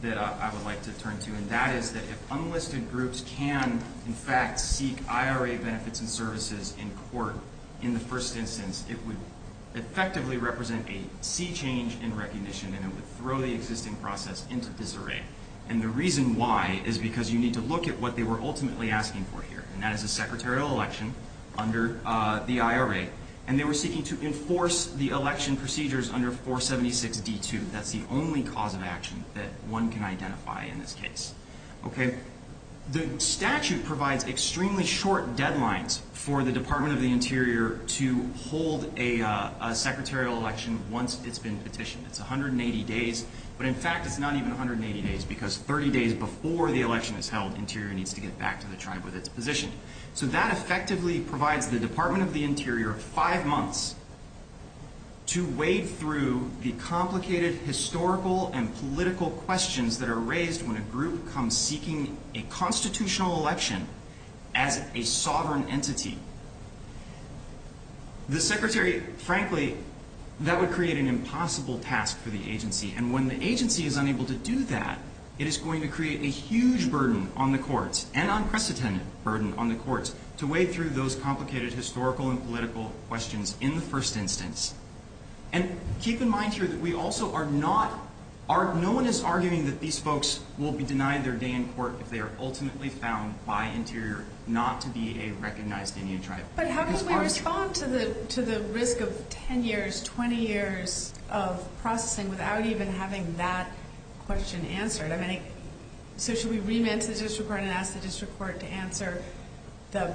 that I would like to turn to, and that is that if unlisted groups can in fact seek IRA benefits and services in court in the first instance, it would effectively represent a sea change in process into disarray. And the reason why is because you need to look at what they were ultimately asking for here, and that is a secretarial election under the IRA, and they were seeking to enforce the election procedures under 476D2. That's the only cause of action that one can identify in this case. The statute provides extremely short deadlines for the Department of the Interior to hold a secretarial election once it's been petitioned. It's 180 days, but in fact it's not even 180 days because 30 days before the election is held, Interior needs to get back to the tribe with its position. So that effectively provides the Department of the Interior five months to wade through the complicated historical and political questions that a constitutional election as a sovereign entity. The Secretary, frankly, that would create an impossible task for the agency, and when the agency is unable to do that, it is going to create a huge burden on the courts and unprecedented burden on the courts to wade through those complicated historical and political questions in the first instance. Keep in mind here that we also are not arguing that these folks will be denied their day in court if they are ultimately found by Interior not to be a recognized Indian tribe. But how do we respond to the risk of 10 years, 20 years of processing without even having that question answered? So should we remand to the District Court and ask the District Court to answer the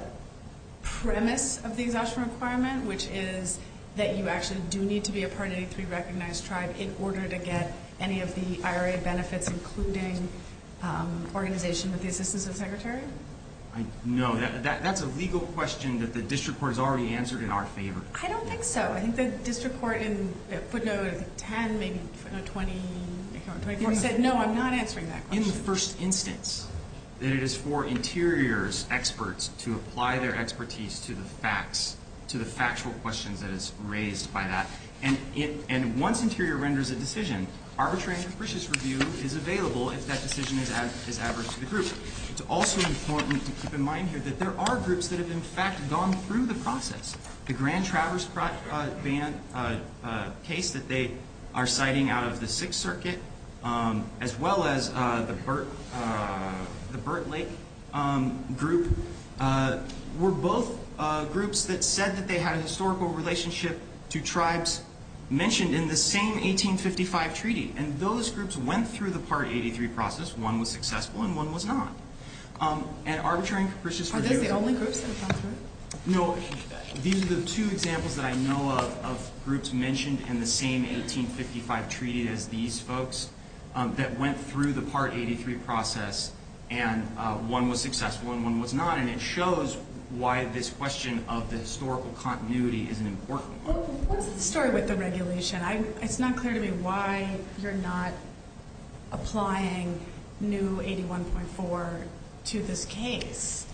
premise of the exhaustion requirement, which is that you actually do need to be a part of any three recognized tribe in order to get any of the IRA benefits including organization with the assistance of the Secretary? No, that's a legal question that the District Court has already answered in our favor. I don't think so. I think the District Court in footnote 10, maybe footnote 20, said no, I'm not answering that question. In the first instance, that it is for Interior's experts to apply their expertise to the facts, to the factual questions that is raised by that. And once Interior renders a decision, arbitrary and capricious review is available if that decision is adverse to the group. It's also important to keep in mind here that there are groups that have in fact gone through the process. The Grand Traverse Ban case that they are citing out of the Sixth Circuit as well as the Burt Lake group were both groups that said that they had a historical relationship to tribes mentioned in the same 1855 treaty. And those groups went through the Part 83 process. One was successful and one was not. Arbitrary and capricious review... Are those the only groups that have gone through? No. These are the two examples that I know of of groups mentioned in the same 1855 treaty as these folks that went through the Part 83 process and one was successful and one was not. And it shows why this question of the historical continuity is an important one. What's the story with the regulation? It's not clear to me why you're not adding 1.4 to this case.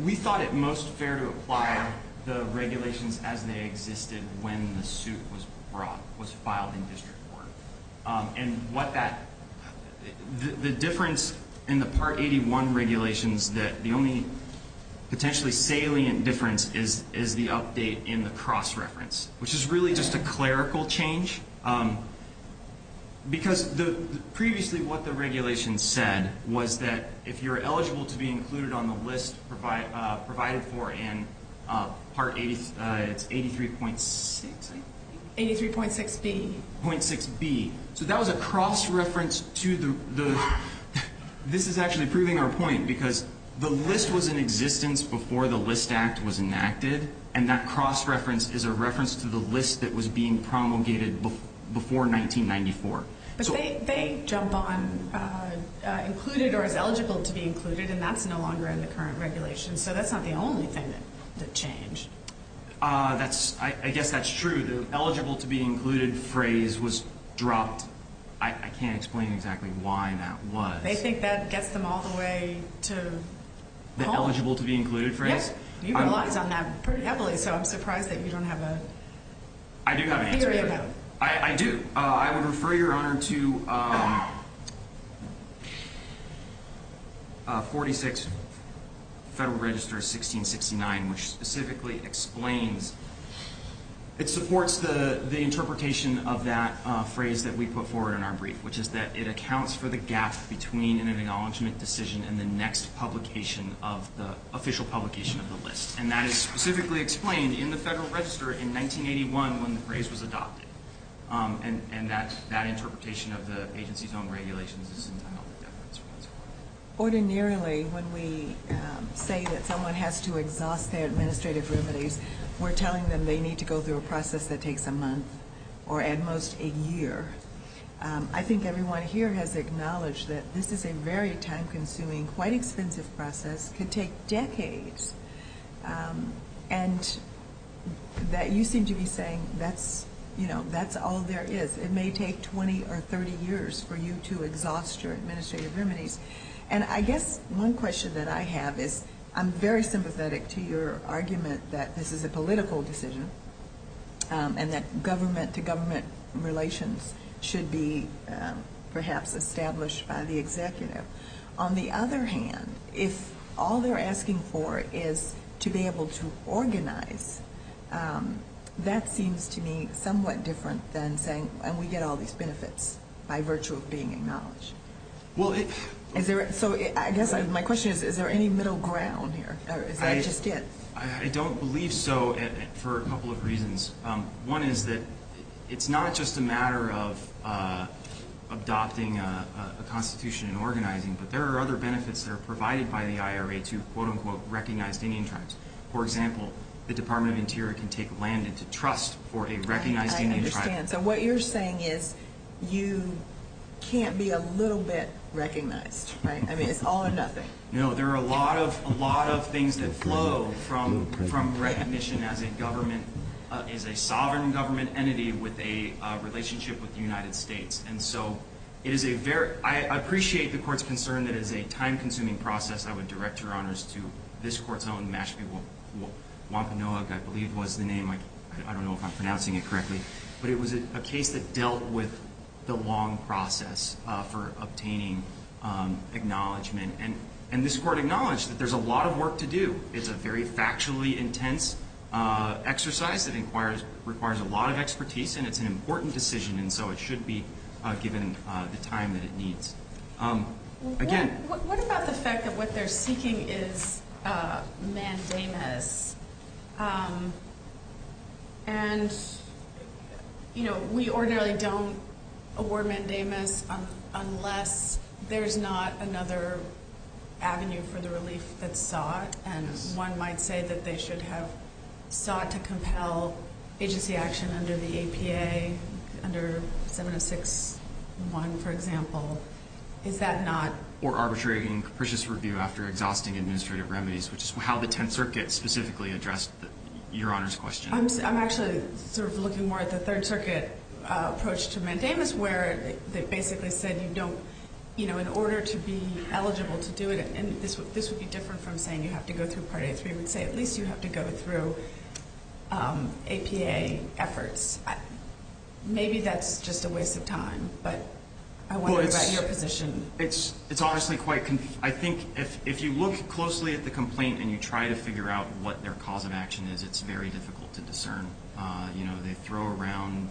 We thought it most fair to apply the regulations as they existed when the suit was brought, was filed in district court. And what that... The difference in the Part 81 regulations that the only potentially salient difference is the update in the cross-reference, which is really just a clerical change. Because previously what the regulations said was that if you're eligible to be included on the list provided for in Part 83... 83.6... 83.6B. So that was a cross-reference to the... This is actually proving our point because the list was in existence before the List Act was enacted and that cross-reference is a reference to the list that was being promulgated before 1994. But they jump on included or is eligible to be included and that's no longer in the current regulations. So that's not the only thing that changed. I guess that's true. The eligible to be included phrase was dropped. I can't explain exactly why that was. They think that gets them all the way to... The eligible to be included phrase? Yep. You rely on that pretty heavily so I'm surprised that you don't have a... I do have an answer. I do. I would refer your Honor to 46 Federal Register 1669 which specifically explains... It supports the interpretation of that phrase that we put forward in our brief which is that it accounts for the gap between an acknowledgement decision and the next publication of the official publication of the list. And that is specifically explained in the phrase was adopted. And that interpretation of the agency's own regulations is entirely different. Ordinarily when we say that someone has to exhaust their administrative remedies, we're telling them they need to go through a process that takes a month or at most a year. I think everyone here has acknowledged that this is a very time consuming, quite expensive process could take decades. And that you seem to be saying that's all there is. It may take 20 or 30 years for you to exhaust your administrative remedies. And I guess one question that I have is I'm very sympathetic to your argument that this is a political decision and that government to government relations should be perhaps established by the executive. On the other hand, if all they're asking for is to be able to organize, that seems to me somewhat different than saying and we get all these benefits by virtue of being acknowledged. So I guess my question is, is there any middle ground here? Or is that just it? I don't believe so for a couple of reasons. One is that it's not just a matter of adopting a constitution and organizing, but there are other benefits that are provided by the executive. For example, the Department of Interior can take land into trust for a recognized United Tribes. I understand. So what you're saying is you can't be a little bit recognized, right? I mean, it's all or nothing. No, there are a lot of things that flow from recognition as a sovereign government entity with a relationship with the United States. I appreciate the Court's concern that it is a time-consuming process. I would direct your honors to this Court's own Mashpee Wampanoag, I believe was the name. I don't know if I'm pronouncing it correctly. But it was a case that dealt with the long process for obtaining acknowledgement. And this Court acknowledged that there's a lot of work to do. It's a very factually intense exercise that requires decision, and so it should be given the time that it needs. What about the fact that what they're seeking is mandamus? We ordinarily don't award mandamus unless there's not another avenue for the relief that's sought, and one might say that they should have sought to compel agency action under the APA, under 706-1, for example. Or arbitrary and capricious review after exhausting administrative remedies, which is how the Tenth Circuit specifically addressed Your Honor's question. I'm actually looking more at the Third Circuit approach to mandamus, where they basically said in order to be eligible to do it, and this would be different from saying you have to go through Part A3, I would say at least you have to go through APA efforts. Maybe that's just a waste of time, but I wonder about your position. It's honestly quite, I think if you look closely at the complaint and you try to figure out what their cause of action is, it's very difficult to discern. They throw around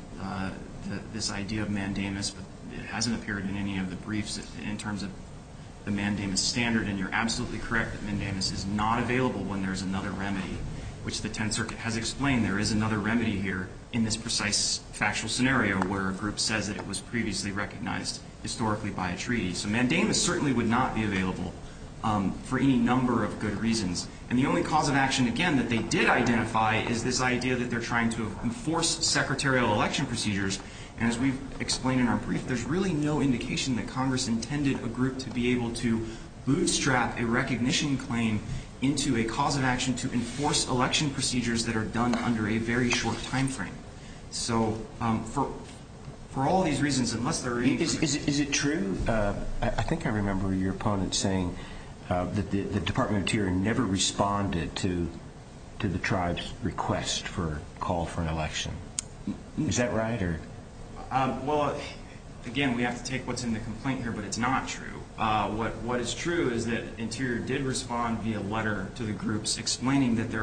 this idea of mandamus, but it hasn't appeared in any of the briefs in terms of the mandamus standard, and you're absolutely correct that mandamus is not available when there's another remedy, which the Tenth Circuit has explained there is another remedy here in this precise factual scenario where a group says that it was previously recognized historically by a treaty. So mandamus certainly would not be available for any number of good reasons. And the only cause of action, again, that they did identify is this idea that they're trying to enforce secretarial election procedures, and as we've explained in our brief, there's really no indication that Congress intended a group to be able to bootstrap a recognition claim into a cause of action to enforce election procedures that are done under a very short timeframe. So for all these reasons, unless there are any groups... Is it true? I think I remember your opponent saying that the Department of Interior never responded to the tribe's request for a call for an election. Is that right? Well, again, we have to take what's in the complaint here, but it's not true. What is true is that Interior did respond via letter to the groups explaining that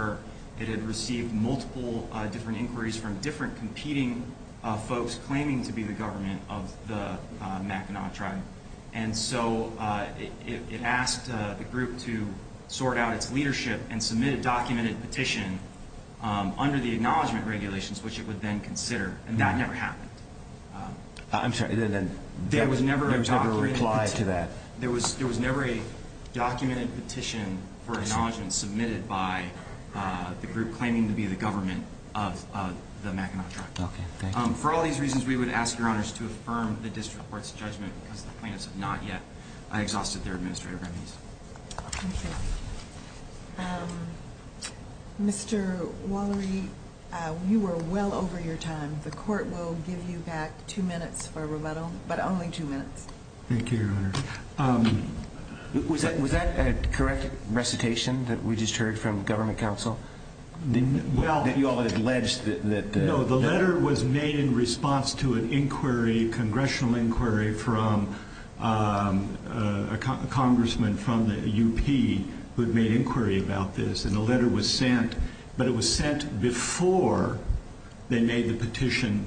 it had received multiple different inquiries from different competing folks claiming to be the government of the Mackinac tribe. And so it asked the group to sort out its leadership and submit a documented petition under the acknowledgement regulations, which it would then consider, and that never happened. I'm sorry, there was never a reply to that? There was never a documented petition for acknowledgement submitted by the group claiming to be the government of the Mackinac tribe. Okay, thank you. For all these reasons, we would ask Your Honors to affirm the District Court's judgment because the plaintiffs have not yet exhausted their administrative remedies. Thank you. Mr. Wallery, you were well over your time. The Court will give you back two minutes for rebuttal, but only two minutes. Thank you, Your Honor. Was that a correct recitation that we just heard from Government Counsel? That you all had alleged that... No, the letter was made in response to an inquiry, a congressional inquiry from a congressman from the UP who had made inquiry about this, and the letter was sent, but it was sent before they made the petition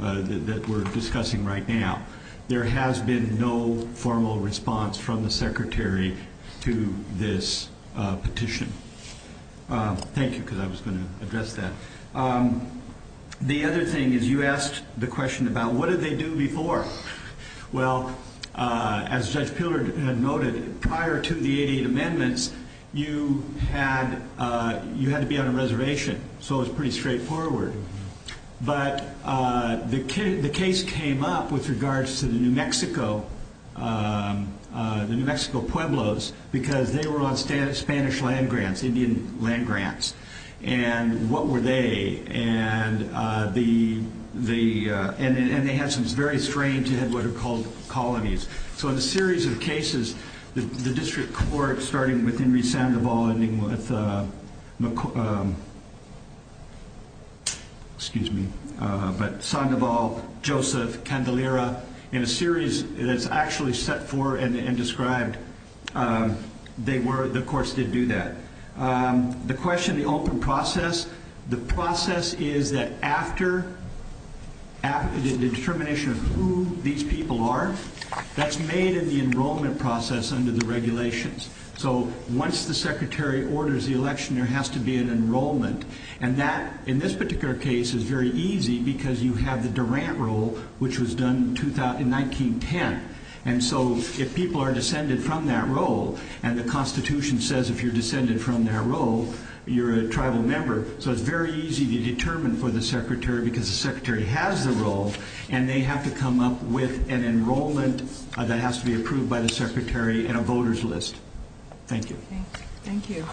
that we're discussing right now. There has been no formal response from the Secretary to this petition. Thank you, because I was going to address that. The other thing is you asked the question about what did they do before? Well, as Judge Piller had noted, prior to the 88 amendments, you had to be on a reservation, so it was pretty straightforward. But the case came up with regards to the New Mexico Pueblos, because they were on Spanish land grants, Indian land grants, and what were they? And they had some very strange, they had what are called colonies. So in a series of cases, the District Court, starting with Henry Sandoval, ending with excuse me, but Sandoval, Joseph, Candelera, in a series that's actually set forth and described, the courts did do that. The question, the open process, the process is that after the determination of who these people are, that's made in the enrollment process under the regulations. So once the Secretary orders the election, there has to be an enrollment. And that, in this particular case, is very easy because you have the Durant role, which was done in 1910. And so if people are descended from that role, and the Constitution says if you're descended from that role, you're a tribal member, so it's very easy to determine for the Secretary because the Secretary has the role, and they have to come up with an enrollment that has to be approved by the Secretary and a voters list. Thank you. Thank you.